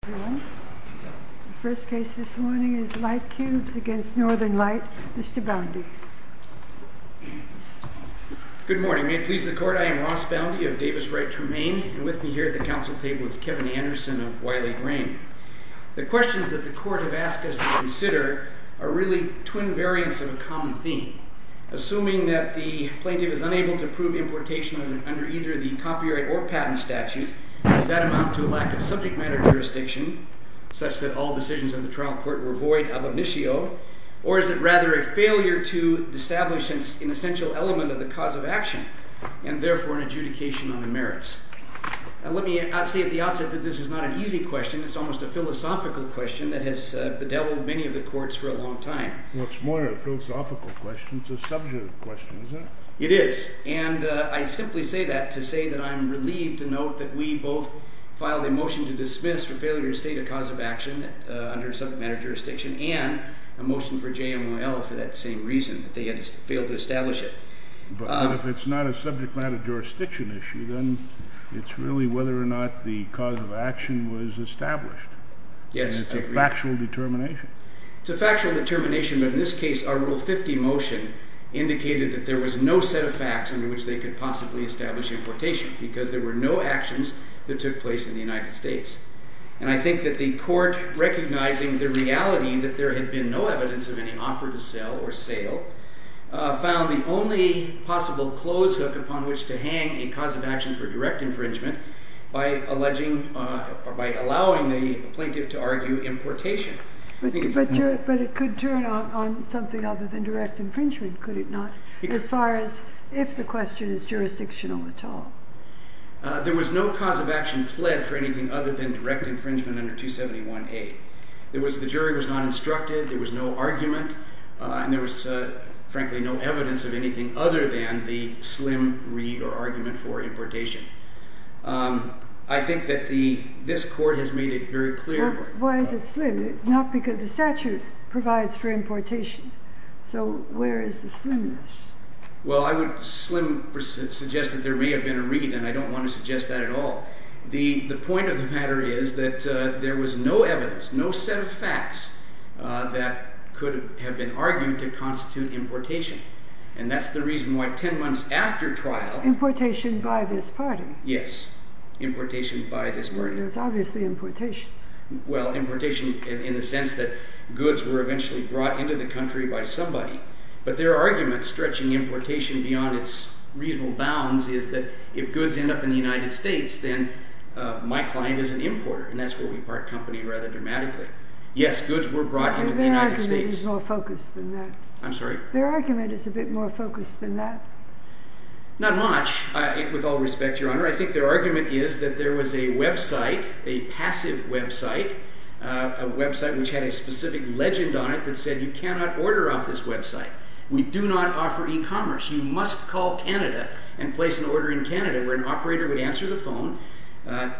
The first case this morning is Lightcubes v. Northern Light. Mr. Boundy. Good morning. May it please the Court, I am Ross Boundy of Davis Wright Tremaine, and with me here at the Council table is Kevin Anderson of Wiley Green. The questions that the Court has asked us to consider are really twin variants of a common theme. Assuming that the plaintiff is unable to prove importation under either the copyright or patent statute, does that amount to a lack of subject matter jurisdiction, such that all decisions in the trial court were void ab initio, or is it rather a failure to establish an essential element of the cause of action, and therefore an adjudication on the merits? Let me say at the outset that this is not an easy question. It's almost a philosophical question that has bedeviled many of the courts for a long time. Well, it's more of a philosophical question than a subject question, isn't it? It is, and I simply say that to say that I am relieved to note that we both filed a motion to dismiss for failure to state a cause of action under subject matter jurisdiction, and a motion for JMYL for that same reason, that they had failed to establish it. But if it's not a subject matter jurisdiction issue, then it's really whether or not the cause of action was established. Yes, I agree. And it's a factual determination. It's a factual determination, but in this case, our Rule 50 motion indicated that there was no set of facts under which they could possibly establish importation, because there were no actions that took place in the United States. And I think that the court, recognizing the reality that there had been no evidence of any offer to sell or sale, found the only possible close hook upon which to hang a cause of action for direct infringement by allowing the plaintiff to argue importation. But it could turn on something other than direct infringement, could it not? As far as if the question is jurisdictional at all. There was no cause of action pled for anything other than direct infringement under 271A. The jury was not instructed, there was no argument, and there was frankly no evidence of anything other than the slim read or argument for importation. I think that this court has made it very clear. Why is it slim? Not because the statute provides for importation. So where is the slimness? Well, I would slim suggest that there may have been a read, and I don't want to suggest that at all. The point of the matter is that there was no evidence, no set of facts, that could have been argued to constitute importation. And that's the reason why 10 months after trial... Importation by this party. Yes, importation by this party. It's obviously importation. Well, importation in the sense that goods were eventually brought into the country by somebody. But their argument, stretching importation beyond its reasonable bounds, is that if goods end up in the United States, then my client is an importer. And that's where we part company rather dramatically. Yes, goods were brought into the United States. Their argument is a bit more focused than that. I'm sorry? Their argument is a bit more focused than that. Not much. With all respect, Your Honor, I think their argument is that there was a website, a passive website, a website which had a specific legend on it that said, You cannot order off this website. We do not offer e-commerce. You must call Canada and place an order in Canada where an operator would answer the phone,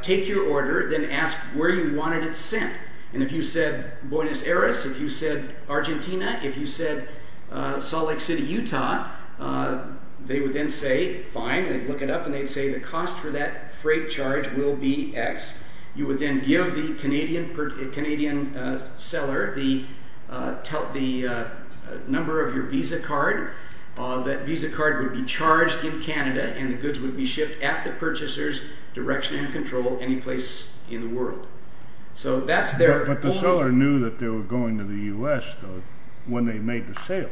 take your order, then ask where you wanted it sent. And if you said Buenos Aires, if you said Argentina, if you said Salt Lake City, Utah, they would then say fine. They'd look it up, and they'd say the cost for that freight charge will be X. You would then give the Canadian seller the number of your visa card. That visa card would be charged in Canada, and the goods would be shipped at the purchaser's direction and control any place in the world. But the seller knew that they were going to the U.S., though, when they made the sale.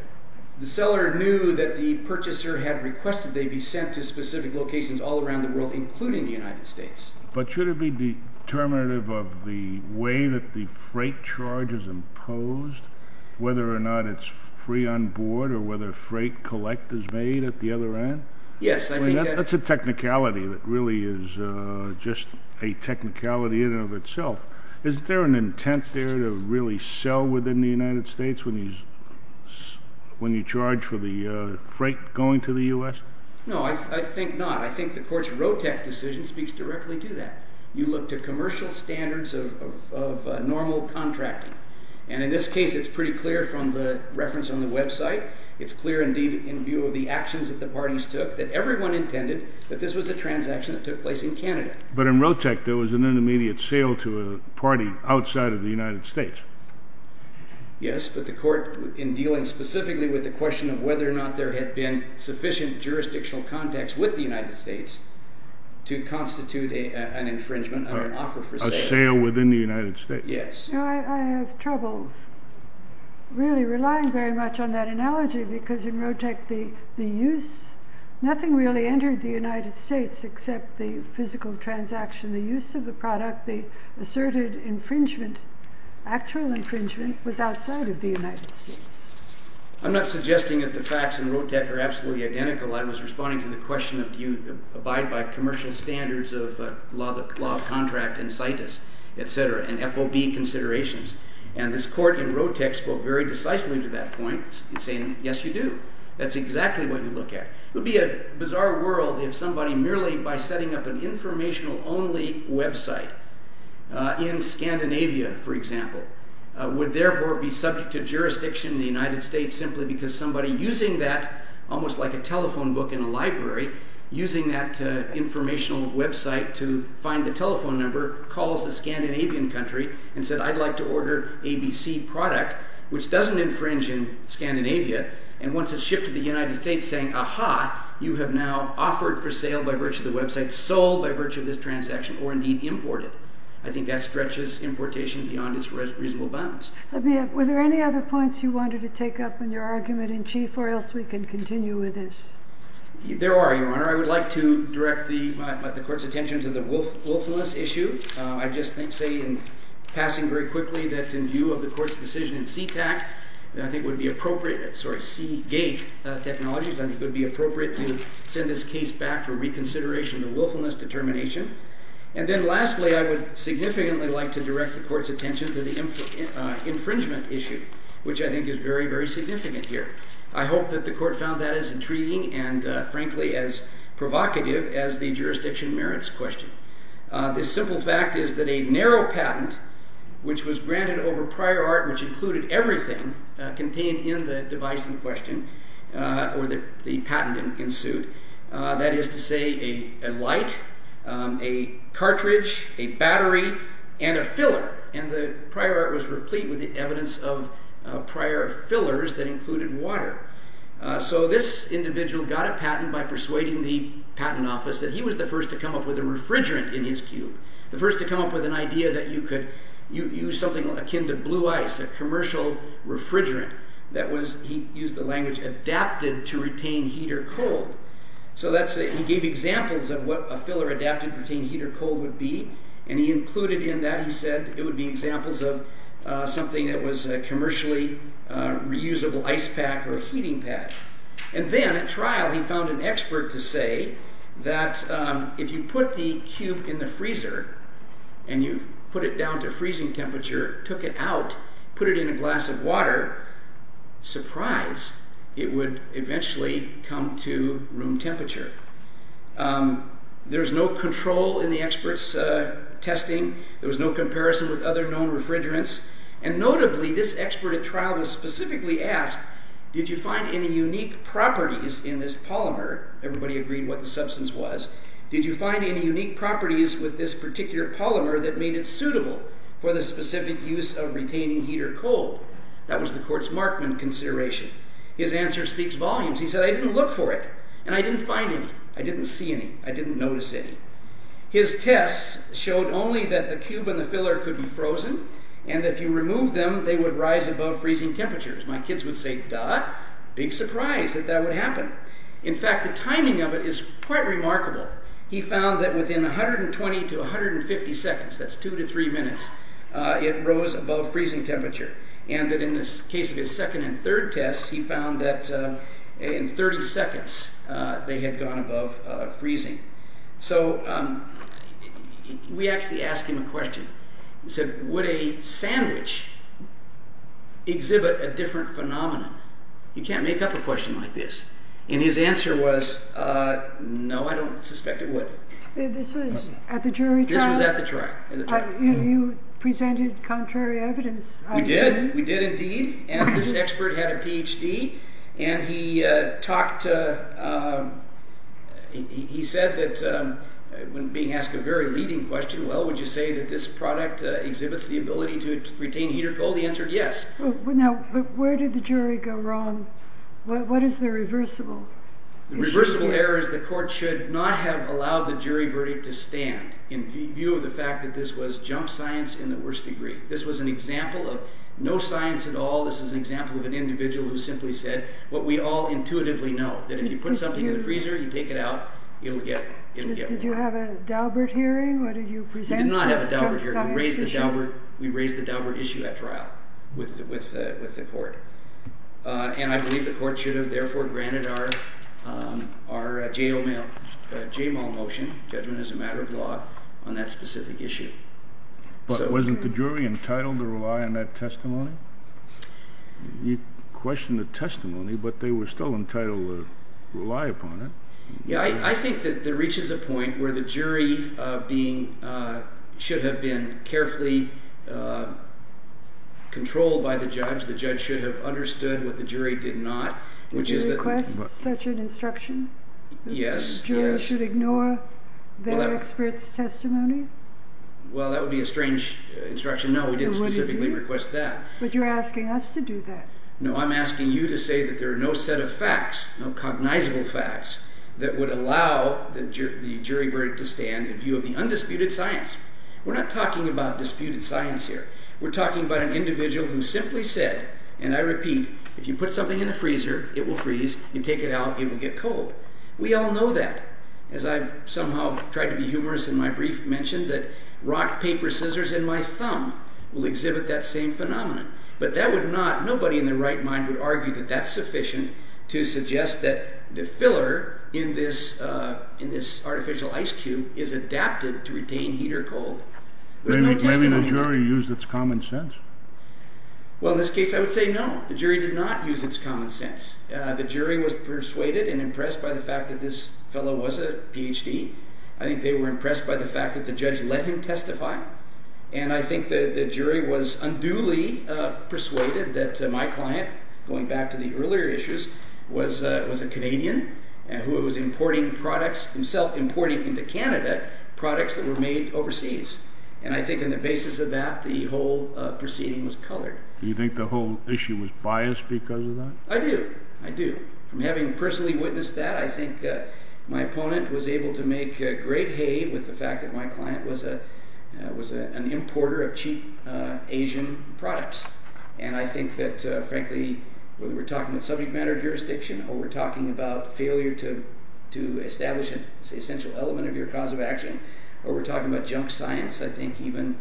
The seller knew that the purchaser had requested they be sent to specific locations all around the world, including the United States. But should it be determinative of the way that the freight charge is imposed, whether or not it's free on board or whether freight collect is made at the other end? That's a technicality that really is just a technicality in and of itself. Is there an intent there to really sell within the United States when you charge for the freight going to the U.S.? No, I think not. I think the court's ROTEC decision speaks directly to that. You look to commercial standards of normal contracting. And in this case, it's pretty clear from the reference on the website. It's clear, indeed, in view of the actions that the parties took, that everyone intended that this was a transaction that took place in Canada. But in ROTEC, there was an intermediate sale to a party outside of the United States. Yes, but the court, in dealing specifically with the question of whether or not there had been sufficient jurisdictional context with the United States to constitute an infringement under an offer for sale. A sale within the United States. Yes. I have trouble really relying very much on that analogy because in ROTEC, nothing really entered the United States except the physical transaction. The use of the product, the asserted infringement, actual infringement was outside of the United States. I'm not suggesting that the facts in ROTEC are absolutely identical. I was responding to the question of do you abide by commercial standards of law of contract incitus, et cetera, and FOB considerations. And this court in ROTEC spoke very decisively to that point in saying, yes, you do. That's exactly what you look at. It would be a bizarre world if somebody merely by setting up an informational-only website in Scandinavia, for example, would therefore be subject to jurisdiction in the United States simply because somebody using that, almost like a telephone book in a library, using that informational website to find the telephone number calls the Scandinavian country and said, I'd like to order ABC product, which doesn't infringe in Scandinavia. And once it's shipped to the United States saying, aha, you have now offered for sale by virtue of the website, sold by virtue of this transaction, or indeed imported. I think that stretches importation beyond its reasonable bounds. Let me ask, were there any other points you wanted to take up in your argument in chief, or else we can continue with this? There are, Your Honor. I would like to direct the court's attention to the willfulness issue. I'd just say in passing very quickly that in view of the court's decision in CTAC, I think it would be appropriate, sorry, Seagate Technologies, I think it would be appropriate to send this case back for reconsideration of the willfulness determination. And then lastly, I would significantly like to direct the court's attention to the infringement issue, which I think is very, very significant here. I hope that the court found that as intriguing and frankly as provocative as the jurisdiction merits question. This simple fact is that a narrow patent, which was granted over prior art, which included everything contained in the device in question, or the patent in suit, that is to say a light, a cartridge, a battery, and a filler. And the prior art was replete with the evidence of prior fillers that included water. So this individual got a patent by persuading the patent office that he was the first to come up with a refrigerant in his cube. The first to come up with an idea that you could use something akin to blue ice, a commercial refrigerant that was, he used the language, adapted to retain heat or cold. So he gave examples of what a filler adapted to retain heat or cold would be, and he included in that, he said, it would be examples of something that was a commercially reusable ice pack or heating pad. And then at trial he found an expert to say that if you put the cube in the freezer and you put it down to freezing temperature, took it out, put it in a glass of water, surprise, it would eventually come to room temperature. There was no control in the expert's testing. There was no comparison with other known refrigerants. And notably, this expert at trial was specifically asked, did you find any unique properties in this polymer? Everybody agreed what the substance was. Did you find any unique properties with this particular polymer that made it suitable for the specific use of retaining heat or cold? That was the court's markman consideration. His answer speaks volumes. He said, I didn't look for it, and I didn't find any. I didn't see any. I didn't notice any. His tests showed only that the cube and the filler could be frozen, and if you removed them, they would rise above freezing temperatures. My kids would say, duh, big surprise that that would happen. In fact, the timing of it is quite remarkable. He found that within 120 to 150 seconds, that's two to three minutes, it rose above freezing temperature. And that in the case of his second and third tests, he found that in 30 seconds they had gone above freezing. So we actually asked him a question. We said, would a sandwich exhibit a different phenomenon? You can't make up a question like this. And his answer was, no, I don't suspect it would. This was at the jury trial? This was at the trial. You presented contrary evidence? We did. We did indeed. And this expert had a PhD, and he said that when being asked a very leading question, well, would you say that this product exhibits the ability to retain heat or cold? He answered yes. Now, where did the jury go wrong? What is the reversible issue here? The reversible error is the court should not have allowed the jury verdict to stand in view of the fact that this was jump science in the worst degree. This was an example of no science at all. This is an example of an individual who simply said what we all intuitively know, that if you put something in the freezer, you take it out, it'll get warm. Did you have a Daubert hearing? What did you present? We did not have a Daubert hearing. We raised the Daubert issue at trial with the court. And I believe the court should have, therefore, granted our JAMAL motion, judgment as a matter of law, on that specific issue. But wasn't the jury entitled to rely on that testimony? You questioned the testimony, but they were still entitled to rely upon it. I think that there reaches a point where the jury should have been carefully controlled by the judge. The judge should have understood what the jury did not. Would you request such an instruction? Yes. Jury should ignore their expert's testimony? Well, that would be a strange instruction. No, we didn't specifically request that. But you're asking us to do that. No, I'm asking you to say that there are no set of facts, no cognizable facts, that would allow the jury verdict to stand in view of the undisputed science. We're not talking about disputed science here. We're talking about an individual who simply said, and I repeat, if you put something in the freezer, it will freeze, you take it out, it will get cold. We all know that. As I somehow tried to be humorous in my brief, mentioned that rock, paper, scissors and my thumb will exhibit that same phenomenon. But that would not, nobody in their right mind would argue that that's sufficient to suggest that the filler in this artificial ice cube is adapted to retain heat or cold. Maybe the jury used its common sense. Well, in this case, I would say no. The jury did not use its common sense. The jury was persuaded and impressed by the fact that this fellow was a PhD. I think they were impressed by the fact that the judge let him testify. And I think that the jury was unduly persuaded that my client, going back to the earlier issues, was a Canadian who was importing products, himself importing into Canada, products that were made overseas. And I think on the basis of that, the whole proceeding was colored. Do you think the whole issue was biased because of that? I do. I do. From having personally witnessed that, I think my opponent was able to make great hay with the fact that my client was an importer of cheap Asian products. And I think that, frankly, whether we're talking about subject matter jurisdiction or we're talking about failure to establish an essential element of your cause of action, or we're talking about junk science, I think even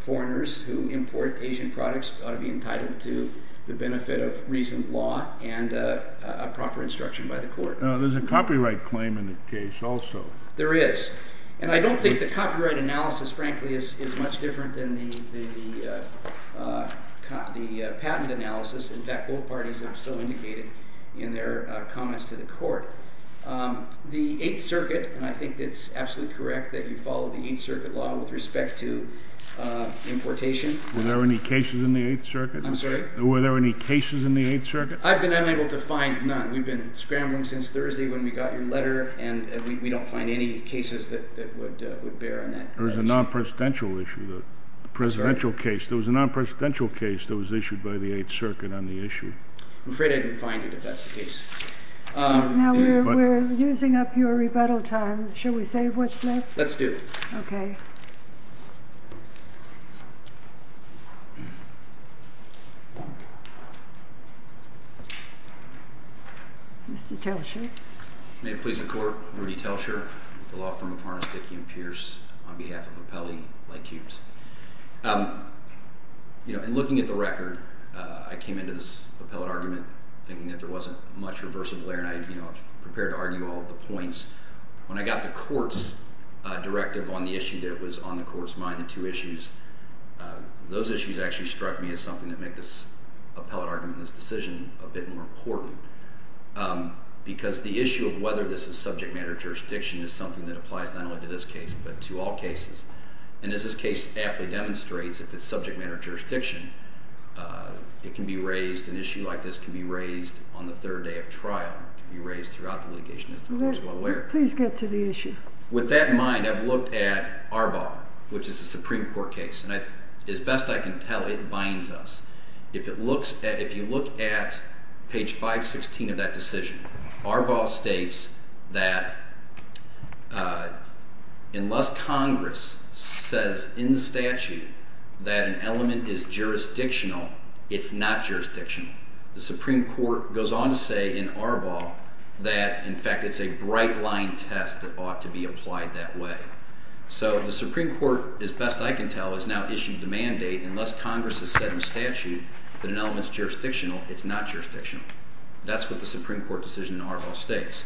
foreigners who import Asian products ought to be entitled to the benefit of reasoned law and a proper instruction by the court. There's a copyright claim in the case also. There is. And I don't think the copyright analysis, frankly, is much different than the patent analysis. In fact, both parties have so indicated in their comments to the court. The Eighth Circuit – and I think it's absolutely correct that you follow the Eighth Circuit law with respect to importation. Were there any cases in the Eighth Circuit? I'm sorry? I've been unable to find none. We've been scrambling since Thursday when we got your letter, and we don't find any cases that would bear on that. There was a non-presidential case that was issued by the Eighth Circuit on the issue. I'm afraid I didn't find it, if that's the case. Now we're using up your rebuttal time. Shall we say what's left? Let's do it. Okay. Mr. Telcher. May it please the Court, Rudy Telcher, the law firm of Harness, Dickey & Pierce, on behalf of Appellee Lightcubes. In looking at the record, I came into this appellate argument thinking that there wasn't much reversible there, and I prepared to argue all the points. When I got the Court's directive on the issue that was on the Court's mind, the two issues, those issues actually struck me as something that made this appellate argument, this decision, a bit more important. Because the issue of whether this is subject matter jurisdiction is something that applies not only to this case but to all cases. And as this case aptly demonstrates, if it's subject matter jurisdiction, it can be raised, an issue like this can be raised on the third day of trial. It can be raised throughout the litigation, as the Court is well aware. Please get to the issue. With that in mind, I've looked at Arbaugh, which is a Supreme Court case, and as best I can tell, it binds us. If you look at page 516 of that decision, Arbaugh states that unless Congress says in the statute that an element is jurisdictional, it's not jurisdictional. The Supreme Court goes on to say in Arbaugh that, in fact, it's a bright-line test that ought to be applied that way. So the Supreme Court, as best I can tell, has now issued the mandate, unless Congress has said in the statute that an element is jurisdictional, it's not jurisdictional. That's what the Supreme Court decision in Arbaugh states.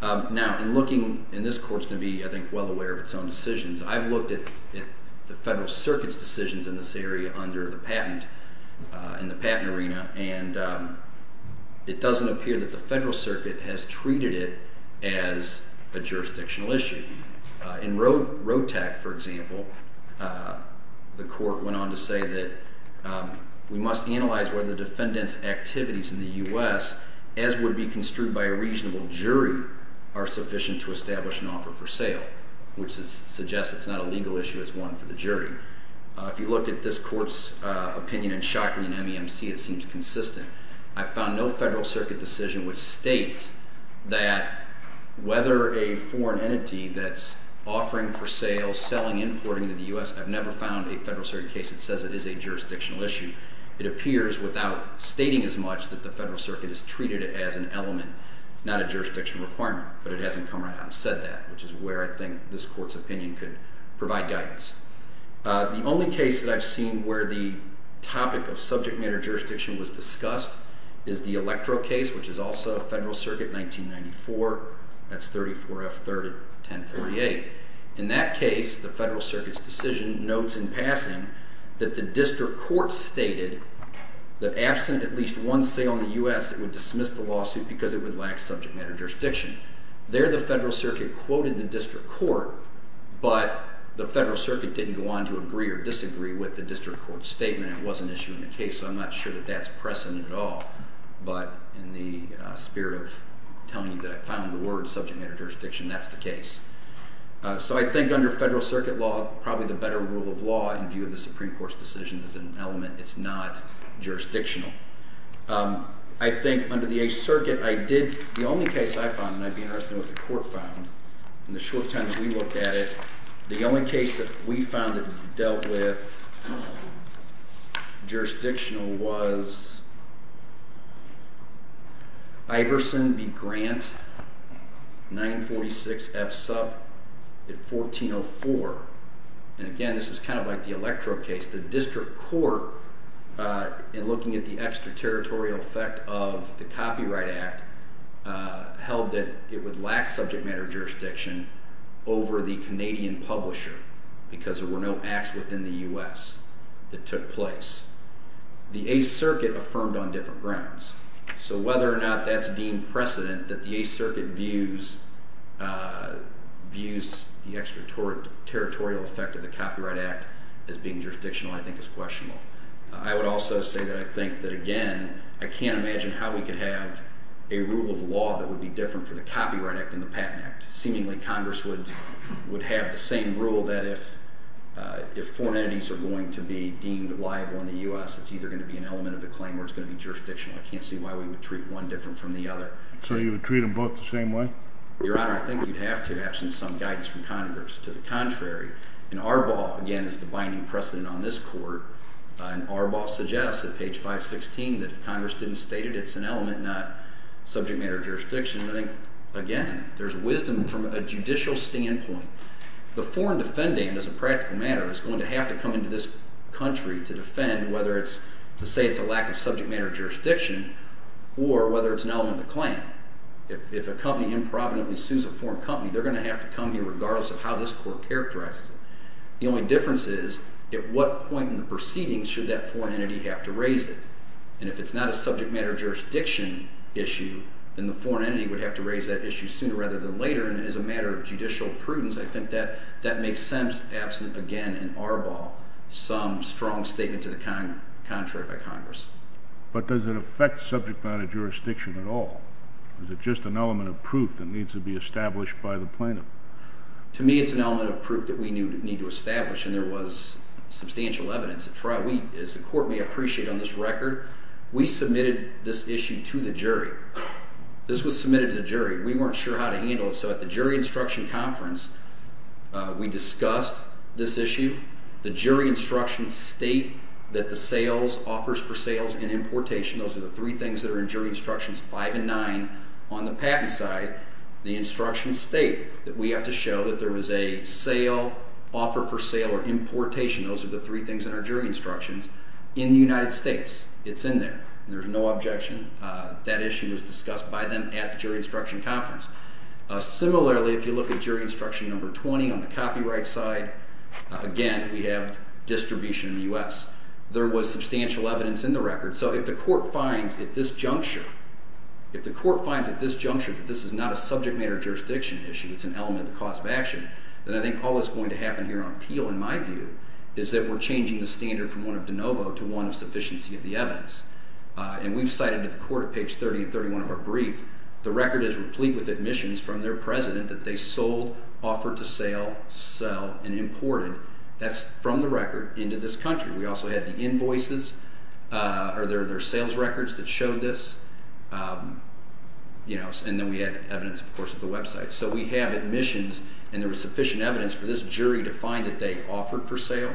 Now, in looking – and this Court's going to be, I think, well aware of its own decisions. I've looked at the Federal Circuit's decisions in this area under the patent, in the patent arena, and it doesn't appear that the Federal Circuit has treated it as a jurisdictional issue. In ROTAC, for example, the Court went on to say that we must analyze whether defendants' activities in the U.S., as would be construed by a reasonable jury, are sufficient to establish an offer for sale, which suggests it's not a legal issue. It's one for the jury. If you look at this Court's opinion in Shockley and MEMC, it seems consistent. I've found no Federal Circuit decision which states that whether a foreign entity that's offering for sale, selling, importing to the U.S. – I've never found a Federal Circuit case that says it is a jurisdictional issue. It appears, without stating as much, that the Federal Circuit has treated it as an element, not a jurisdiction requirement, but it hasn't come right out and said that, which is where I think this Court's opinion could provide guidance. The only case that I've seen where the topic of subject matter jurisdiction was discussed is the Electro case, which is also a Federal Circuit, 1994. That's 34F301038. In that case, the Federal Circuit's decision notes in passing that the district court stated that absent at least one sale in the U.S., it would dismiss the lawsuit because it would lack subject matter jurisdiction. There, the Federal Circuit quoted the district court, but the Federal Circuit didn't go on to agree or disagree with the district court's statement. It was an issue in the case, so I'm not sure that that's precedent at all. But in the spirit of telling you that I found the word subject matter jurisdiction, that's the case. So I think under Federal Circuit law, probably the better rule of law in view of the Supreme Court's decision is an element. It's not jurisdictional. I think under the Eighth Circuit, I did—the only case I found, and I'd be interested in what the Court found in the short time that we looked at it, the only case that we found that dealt with jurisdictional was Iverson v. Grant, 946F sub 1404. And again, this is kind of like the Electro case. The district court, in looking at the extraterritorial effect of the Copyright Act, held that it would lack subject matter jurisdiction over the Canadian publisher because there were no acts within the U.S. that took place. The Eighth Circuit affirmed on different grounds. So whether or not that's deemed precedent that the Eighth Circuit views the extraterritorial effect of the Copyright Act as being jurisdictional I think is questionable. I would also say that I think that, again, I can't imagine how we could have a rule of law that would be different for the Copyright Act than the Patent Act. Seemingly, Congress would have the same rule that if foreign entities are going to be deemed liable in the U.S., it's either going to be an element of the claim or it's going to be jurisdictional. I can't see why we would treat one different from the other. So you would treat them both the same way? Your Honor, I think you'd have to have some guidance from Congress. To the contrary, in Arbaugh, again, is the binding precedent on this court. And Arbaugh suggests at page 516 that if Congress didn't state it, it's an element, not subject matter jurisdiction. I think, again, there's wisdom from a judicial standpoint. The foreign defendant, as a practical matter, is going to have to come into this country to defend whether it's to say it's a lack of subject matter jurisdiction or whether it's an element of the claim. If a company improvidently sues a foreign company, they're going to have to come here regardless of how this court characterizes it. The only difference is at what point in the proceedings should that foreign entity have to raise it. And if it's not a subject matter jurisdiction issue, then the foreign entity would have to raise that issue sooner rather than later. And as a matter of judicial prudence, I think that makes sense, absent, again, in Arbaugh, some strong statement to the contrary by Congress. But does it affect subject matter jurisdiction at all? Is it just an element of proof that needs to be established by the plaintiff? To me, it's an element of proof that we need to establish, and there was substantial evidence. As the court may appreciate on this record, we submitted this issue to the jury. This was submitted to the jury. We weren't sure how to handle it, so at the jury instruction conference, we discussed this issue. The jury instructions state that the sales, offers for sales and importation, those are the three things that are in jury instructions 5 and 9 on the patent side. The instructions state that we have to show that there was a sale, offer for sale or importation, those are the three things in our jury instructions, in the United States. It's in there. There's no objection. That issue was discussed by them at the jury instruction conference. Similarly, if you look at jury instruction number 20 on the copyright side, again, we have distribution in the U.S. There was substantial evidence in the record. So if the court finds at this juncture, if the court finds at this juncture that this is not a subject matter jurisdiction issue, it's an element of cause of action, then I think all that's going to happen here on appeal, in my view, is that we're changing the standard from one of de novo to one of sufficiency of the evidence. And we've cited at the court at page 30 and 31 of our brief, the record is replete with admissions from their president that they sold, offered to sale, sell, and imported. That's from the record into this country. We also had the invoices or their sales records that showed this, and then we had evidence, of course, of the website. So we have admissions, and there was sufficient evidence for this jury to find that they offered for sale,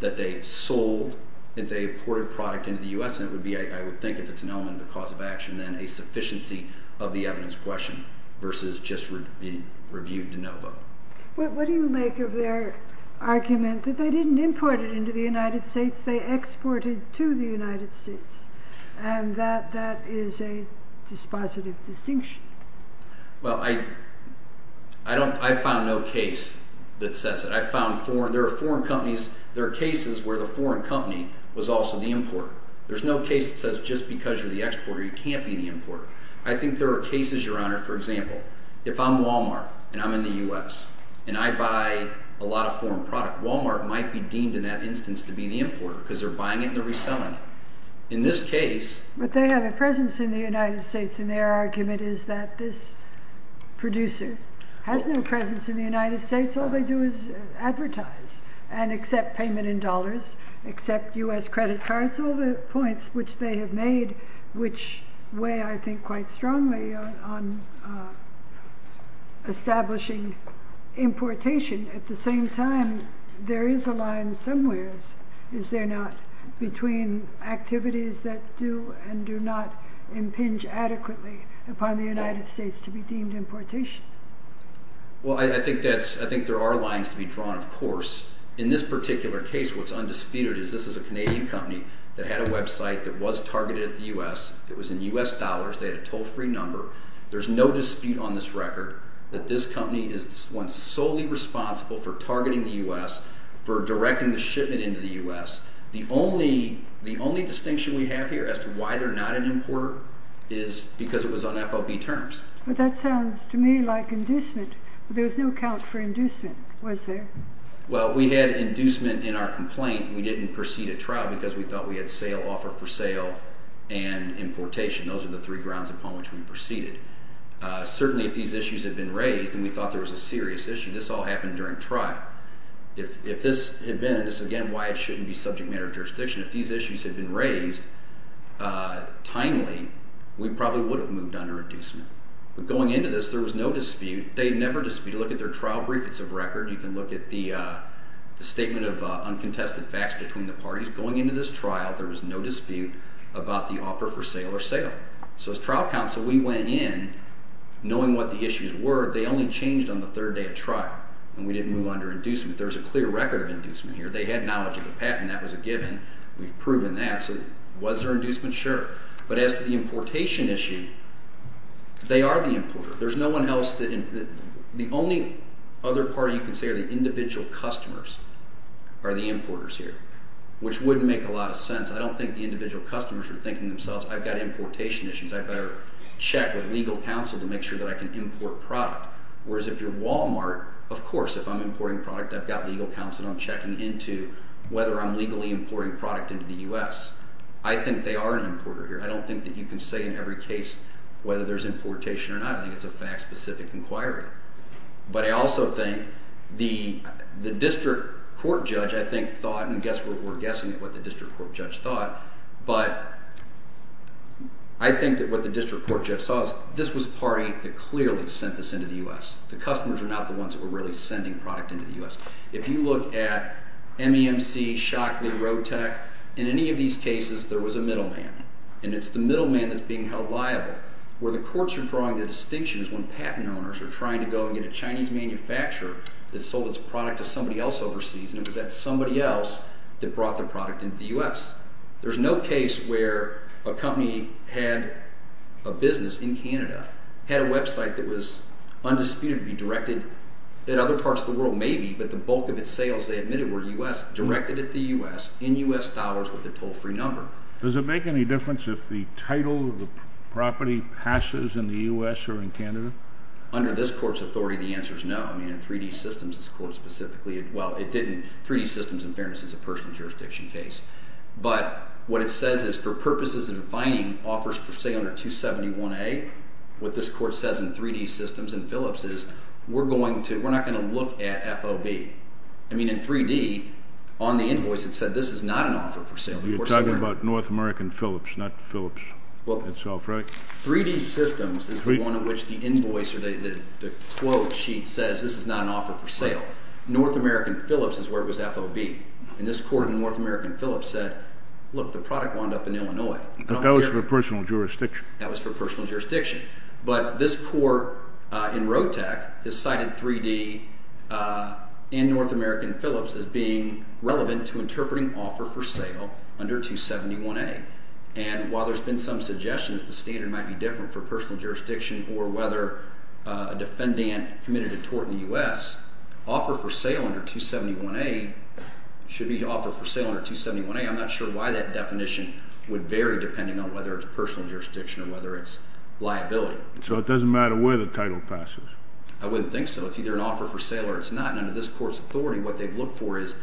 that they sold, that they imported product into the U.S., and it would be, I would think, if it's an element of the cause of action, then a sufficiency of the evidence question versus just being reviewed de novo. What do you make of their argument that they didn't import it into the United States, they exported to the United States, and that that is a dispositive distinction? Well, I found no case that says it. I found foreign – there are foreign companies – there are cases where the foreign company was also the importer. There's no case that says just because you're the exporter you can't be the importer. I think there are cases, Your Honor, for example, if I'm Walmart and I'm in the U.S. and I buy a lot of foreign product, Walmart might be deemed in that instance to be the importer because they're buying it and they're reselling it. But they have a presence in the United States, and their argument is that this producer has no presence in the United States. All they do is advertise and accept payment in dollars, accept U.S. credit cards, all the points which they have made, which weigh, I think, quite strongly on establishing importation. At the same time, there is a line somewhere, is there not, between activities that do and do not impinge adequately upon the United States to be deemed importation? Well, I think that's – I think there are lines to be drawn, of course. In this particular case, what's undisputed is this is a Canadian company that had a website that was targeted at the U.S. It was in U.S. dollars. They had a toll-free number. There's no dispute on this record that this company is the one solely responsible for targeting the U.S., for directing the shipment into the U.S. The only distinction we have here as to why they're not an importer is because it was on FOB terms. But that sounds to me like inducement, but there was no account for inducement, was there? Well, we had inducement in our complaint. We didn't proceed at trial because we thought we had sale, offer for sale and importation. Those are the three grounds upon which we proceeded. Certainly, if these issues had been raised and we thought there was a serious issue, this all happened during trial. If this had been – and this is, again, why it shouldn't be subject matter of jurisdiction – if these issues had been raised timely, we probably would have moved on to inducement. But going into this, there was no dispute. They never disputed. Look at their trial brief. It's a record. You can look at the statement of uncontested facts between the parties. Going into this trial, there was no dispute about the offer for sale or sale. So as trial counsel, we went in knowing what the issues were. They only changed on the third day of trial, and we didn't move on to inducement. There's a clear record of inducement here. They had knowledge of the patent. That was a given. We've proven that, so was there inducement? Sure. But as to the importation issue, they are the importer. There's no one else that – the only other party you can say are the individual customers are the importers here, which wouldn't make a lot of sense. I don't think the individual customers are thinking themselves, I've got importation issues. I'd better check with legal counsel to make sure that I can import product. Whereas if you're Walmart, of course, if I'm importing product, I've got legal counsel. I'm checking into whether I'm legally importing product into the US. I think they are an importer here. I don't think that you can say in every case whether there's importation or not. I think it's a fact-specific inquiry. But I also think the district court judge, I think, thought – and we're guessing at what the district court judge thought – but I think that what the district court judge saw is this was a party that clearly sent this into the US. The customers are not the ones that were really sending product into the US. If you look at MEMC, Shockley, Rotec, in any of these cases, there was a middleman. And it's the middleman that's being held liable. Where the courts are drawing the distinction is when patent owners are trying to go and get a Chinese manufacturer that sold its product to somebody else overseas. And it was that somebody else that brought the product into the US. There's no case where a company had a business in Canada, had a website that was undisputed to be directed at other parts of the world. Maybe, but the bulk of its sales, they admitted, were directed at the US in US dollars with a toll-free number. Does it make any difference if the title of the property passes in the US or in Canada? Under this court's authority, the answer is no. I mean, in 3D Systems, this court specifically – well, it didn't. 3D Systems, in fairness, is a personal jurisdiction case. But what it says is for purposes of defining offers for sale under 271A, what this court says in 3D Systems and Phillips is we're going to – we're not going to look at FOB. I mean, in 3D, on the invoice, it said this is not an offer for sale. You're talking about North American Phillips, not Phillips itself, right? 3D Systems is the one in which the invoice or the quote sheet says this is not an offer for sale. North American Phillips is where it was FOB. And this court in North American Phillips said, look, the product wound up in Illinois. But that was for personal jurisdiction. That was for personal jurisdiction. But this court in RoadTech has cited 3D and North American Phillips as being relevant to interpreting offer for sale under 271A. And while there's been some suggestion that the standard might be different for personal jurisdiction or whether a defendant committed a tort in the US, offer for sale under 271A should be offer for sale under 271A. I'm not sure why that definition would vary depending on whether it's personal jurisdiction or whether it's liability. So it doesn't matter where the title passes? I wouldn't think so. It's either an offer for sale or it's not. And under this court's authority, what they've looked for is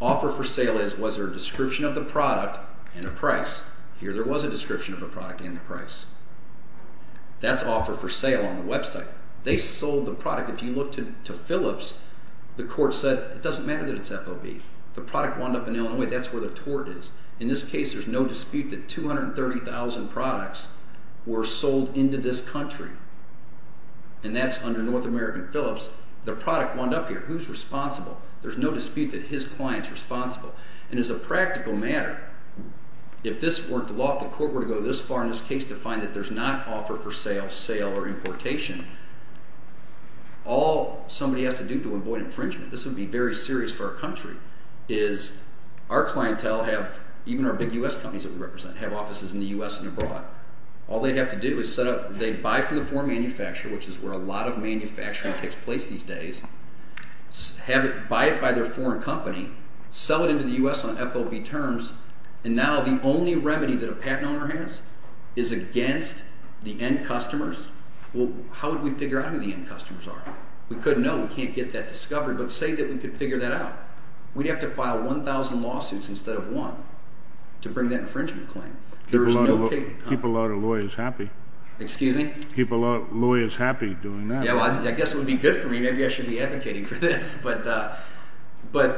offer for sale is was there a description of the product and a price. Here there was a description of the product and the price. That's offer for sale on the website. They sold the product. If you look to Phillips, the court said it doesn't matter that it's FOB. The product wound up in Illinois. That's where the tort is. In this case, there's no dispute that 230,000 products were sold into this country. And that's under North American Phillips. The product wound up here. Who's responsible? There's no dispute that his client's responsible. And as a practical matter, if this weren't the law, if the court were to go this far in this case to find that there's not offer for sale, sale or importation, all somebody has to do to avoid infringement, this would be very serious for our country. Our clientele have – even our big U.S. companies that we represent have offices in the U.S. and abroad. All they have to do is set up – they buy from the foreign manufacturer, which is where a lot of manufacturing takes place these days. Buy it by their foreign company. Sell it into the U.S. on FOB terms. And now the only remedy that a patent owner has is against the end customers. Well, how would we figure out who the end customers are? We couldn't know. We can't get that discovered. But say that we could figure that out. We'd have to file 1,000 lawsuits instead of one to bring that infringement claim. There is no – Keep a lot of lawyers happy. Excuse me? Keep a lot of lawyers happy doing that. Yeah, well, I guess it would be good for me. Maybe I should be advocating for this. But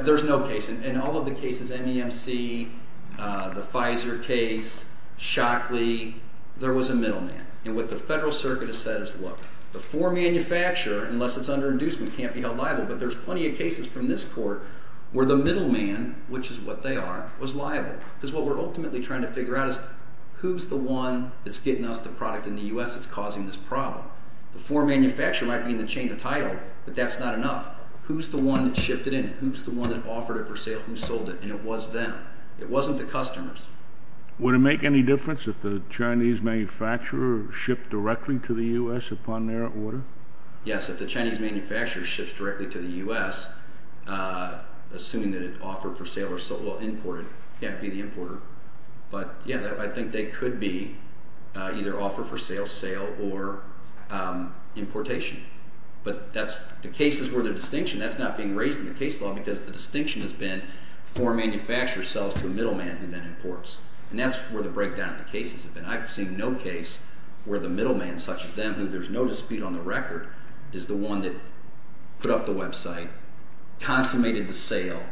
there's no case. In all of the cases, MEMC, the Pfizer case, Shockley, there was a middleman. And what the Federal Circuit has said is, look, the foreign manufacturer, unless it's under inducement, can't be held liable. But there's plenty of cases from this court where the middleman, which is what they are, was liable. Because what we're ultimately trying to figure out is who's the one that's getting us the product in the U.S. that's causing this problem. The foreign manufacturer might be in the chain of title, but that's not enough. Who's the one that shipped it in? Who's the one that offered it for sale? Who sold it? And it was them. It wasn't the customers. Would it make any difference if the Chinese manufacturer shipped directly to the U.S. upon their order? Yes, if the Chinese manufacturer ships directly to the U.S., assuming that it offered for sale or imported, yeah, it would be the importer. But, yeah, I think they could be either offer for sale, sale, or importation. But the cases where there's distinction, that's not being raised in the case law because the distinction has been foreign manufacturer sells to a middleman who then imports. And that's where the breakdown of the cases have been. I've seen no case where the middleman, such as them, who there's no dispute on the record, is the one that put up the website, consummated the sale,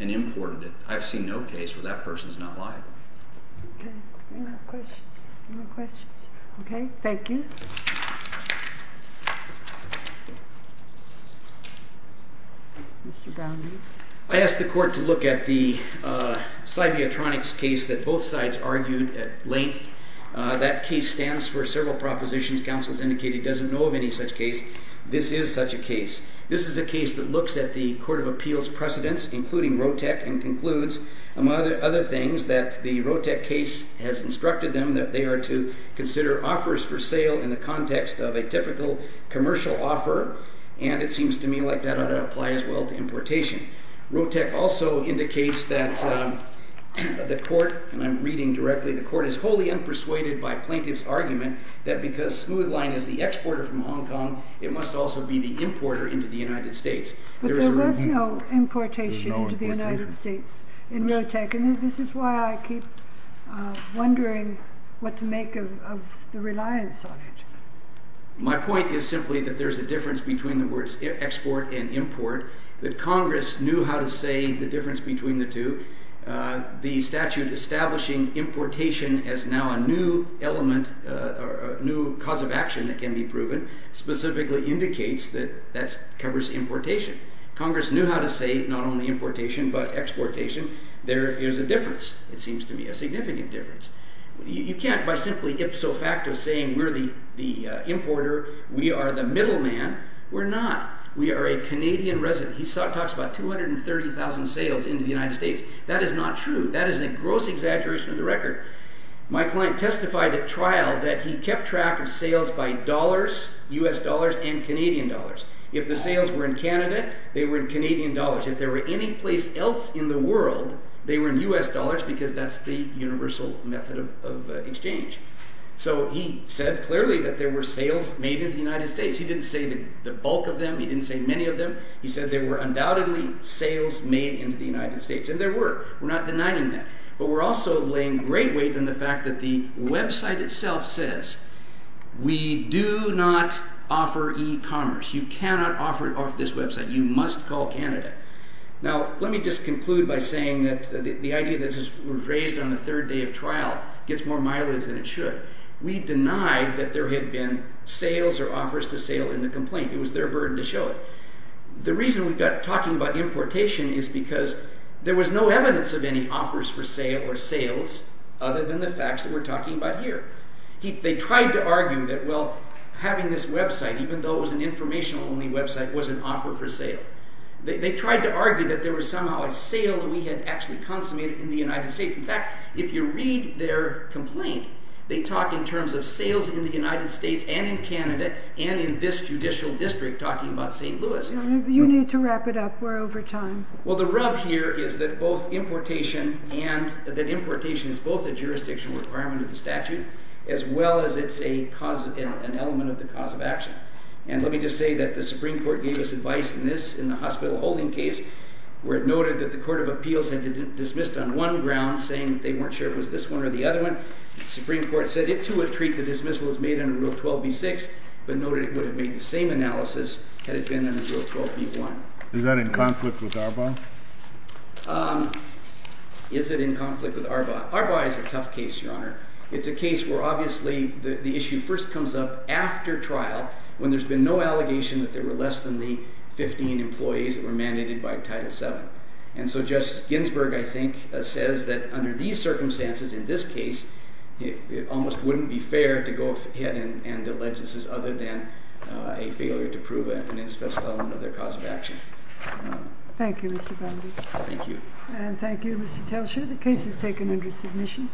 and imported it. I've seen no case where that person's not liable. Okay. Any more questions? Any more questions? Okay. Thank you. Thank you. Mr. Brownlee? I asked the court to look at the Cybiotronics case that both sides argued at length. That case stands for several propositions. Counsel has indicated he doesn't know of any such case. This is such a case. This is a case that looks at the Court of Appeals precedents, including Rotec, and concludes, among other things, that the Rotec case has instructed them that they are to consider offers for sale in the context of a typical commercial offer. And it seems to me like that ought to apply as well to importation. Rotec also indicates that the court – and I'm reading directly – the court is wholly unpersuaded by plaintiff's argument that because Smoothline is the exporter from Hong Kong, it must also be the importer into the United States. But there was no importation into the United States in Rotec, and this is why I keep wondering what to make of the reliance on it. My point is simply that there's a difference between the words export and import, that Congress knew how to say the difference between the two. The statute establishing importation as now a new element, a new cause of action that can be proven, specifically indicates that that covers importation. Congress knew how to say not only importation but exportation. There is a difference, it seems to me, a significant difference. You can't by simply ipso facto say we're the importer, we are the middleman. We're not. We are a Canadian resident. He talks about 230,000 sales into the United States. That is not true. That is a gross exaggeration of the record. My client testified at trial that he kept track of sales by dollars, U.S. dollars and Canadian dollars. If the sales were in Canada, they were in Canadian dollars. If they were anyplace else in the world, they were in U.S. dollars because that's the universal method of exchange. So he said clearly that there were sales made into the United States. He didn't say the bulk of them. He didn't say many of them. He said there were undoubtedly sales made into the United States, and there were. We're not denying that. But we're also laying great weight on the fact that the website itself says we do not offer e-commerce. You cannot offer it off this website. You must call Canada. Now, let me just conclude by saying that the idea that this was raised on the third day of trial gets more mileage than it should. We denied that there had been sales or offers to sale in the complaint. It was their burden to show it. The reason we're talking about importation is because there was no evidence of any offers for sale or sales other than the facts that we're talking about here. They tried to argue that, well, having this website, even though it was an information-only website, was an offer for sale. They tried to argue that there was somehow a sale that we had actually consummated in the United States. In fact, if you read their complaint, they talk in terms of sales in the United States and in Canada and in this judicial district talking about St. Louis. You need to wrap it up. We're over time. Well, the rub here is that both importation and that importation is both a jurisdictional requirement of the statute as well as it's an element of the cause of action. And let me just say that the Supreme Court gave us advice in this, in the hospital holding case, where it noted that the Court of Appeals had dismissed on one ground saying they weren't sure if it was this one or the other one. The Supreme Court said it, too, would treat the dismissal as made under Rule 12b-6 but noted it would have made the same analysis had it been under Rule 12b-1. Is that in conflict with Arbaugh? Is it in conflict with Arbaugh? Arbaugh is a tough case, Your Honor. It's a case where obviously the issue first comes up after trial when there's been no allegation that there were less than the 15 employees that were mandated by Title VII. And so Justice Ginsburg, I think, says that under these circumstances, in this case, it almost wouldn't be fair to go ahead and allege this is other than a failure to prove an inspection element of their cause of action. Thank you, Mr. Bundy. Thank you. And thank you, Mr. Telcher. The case is taken under submission.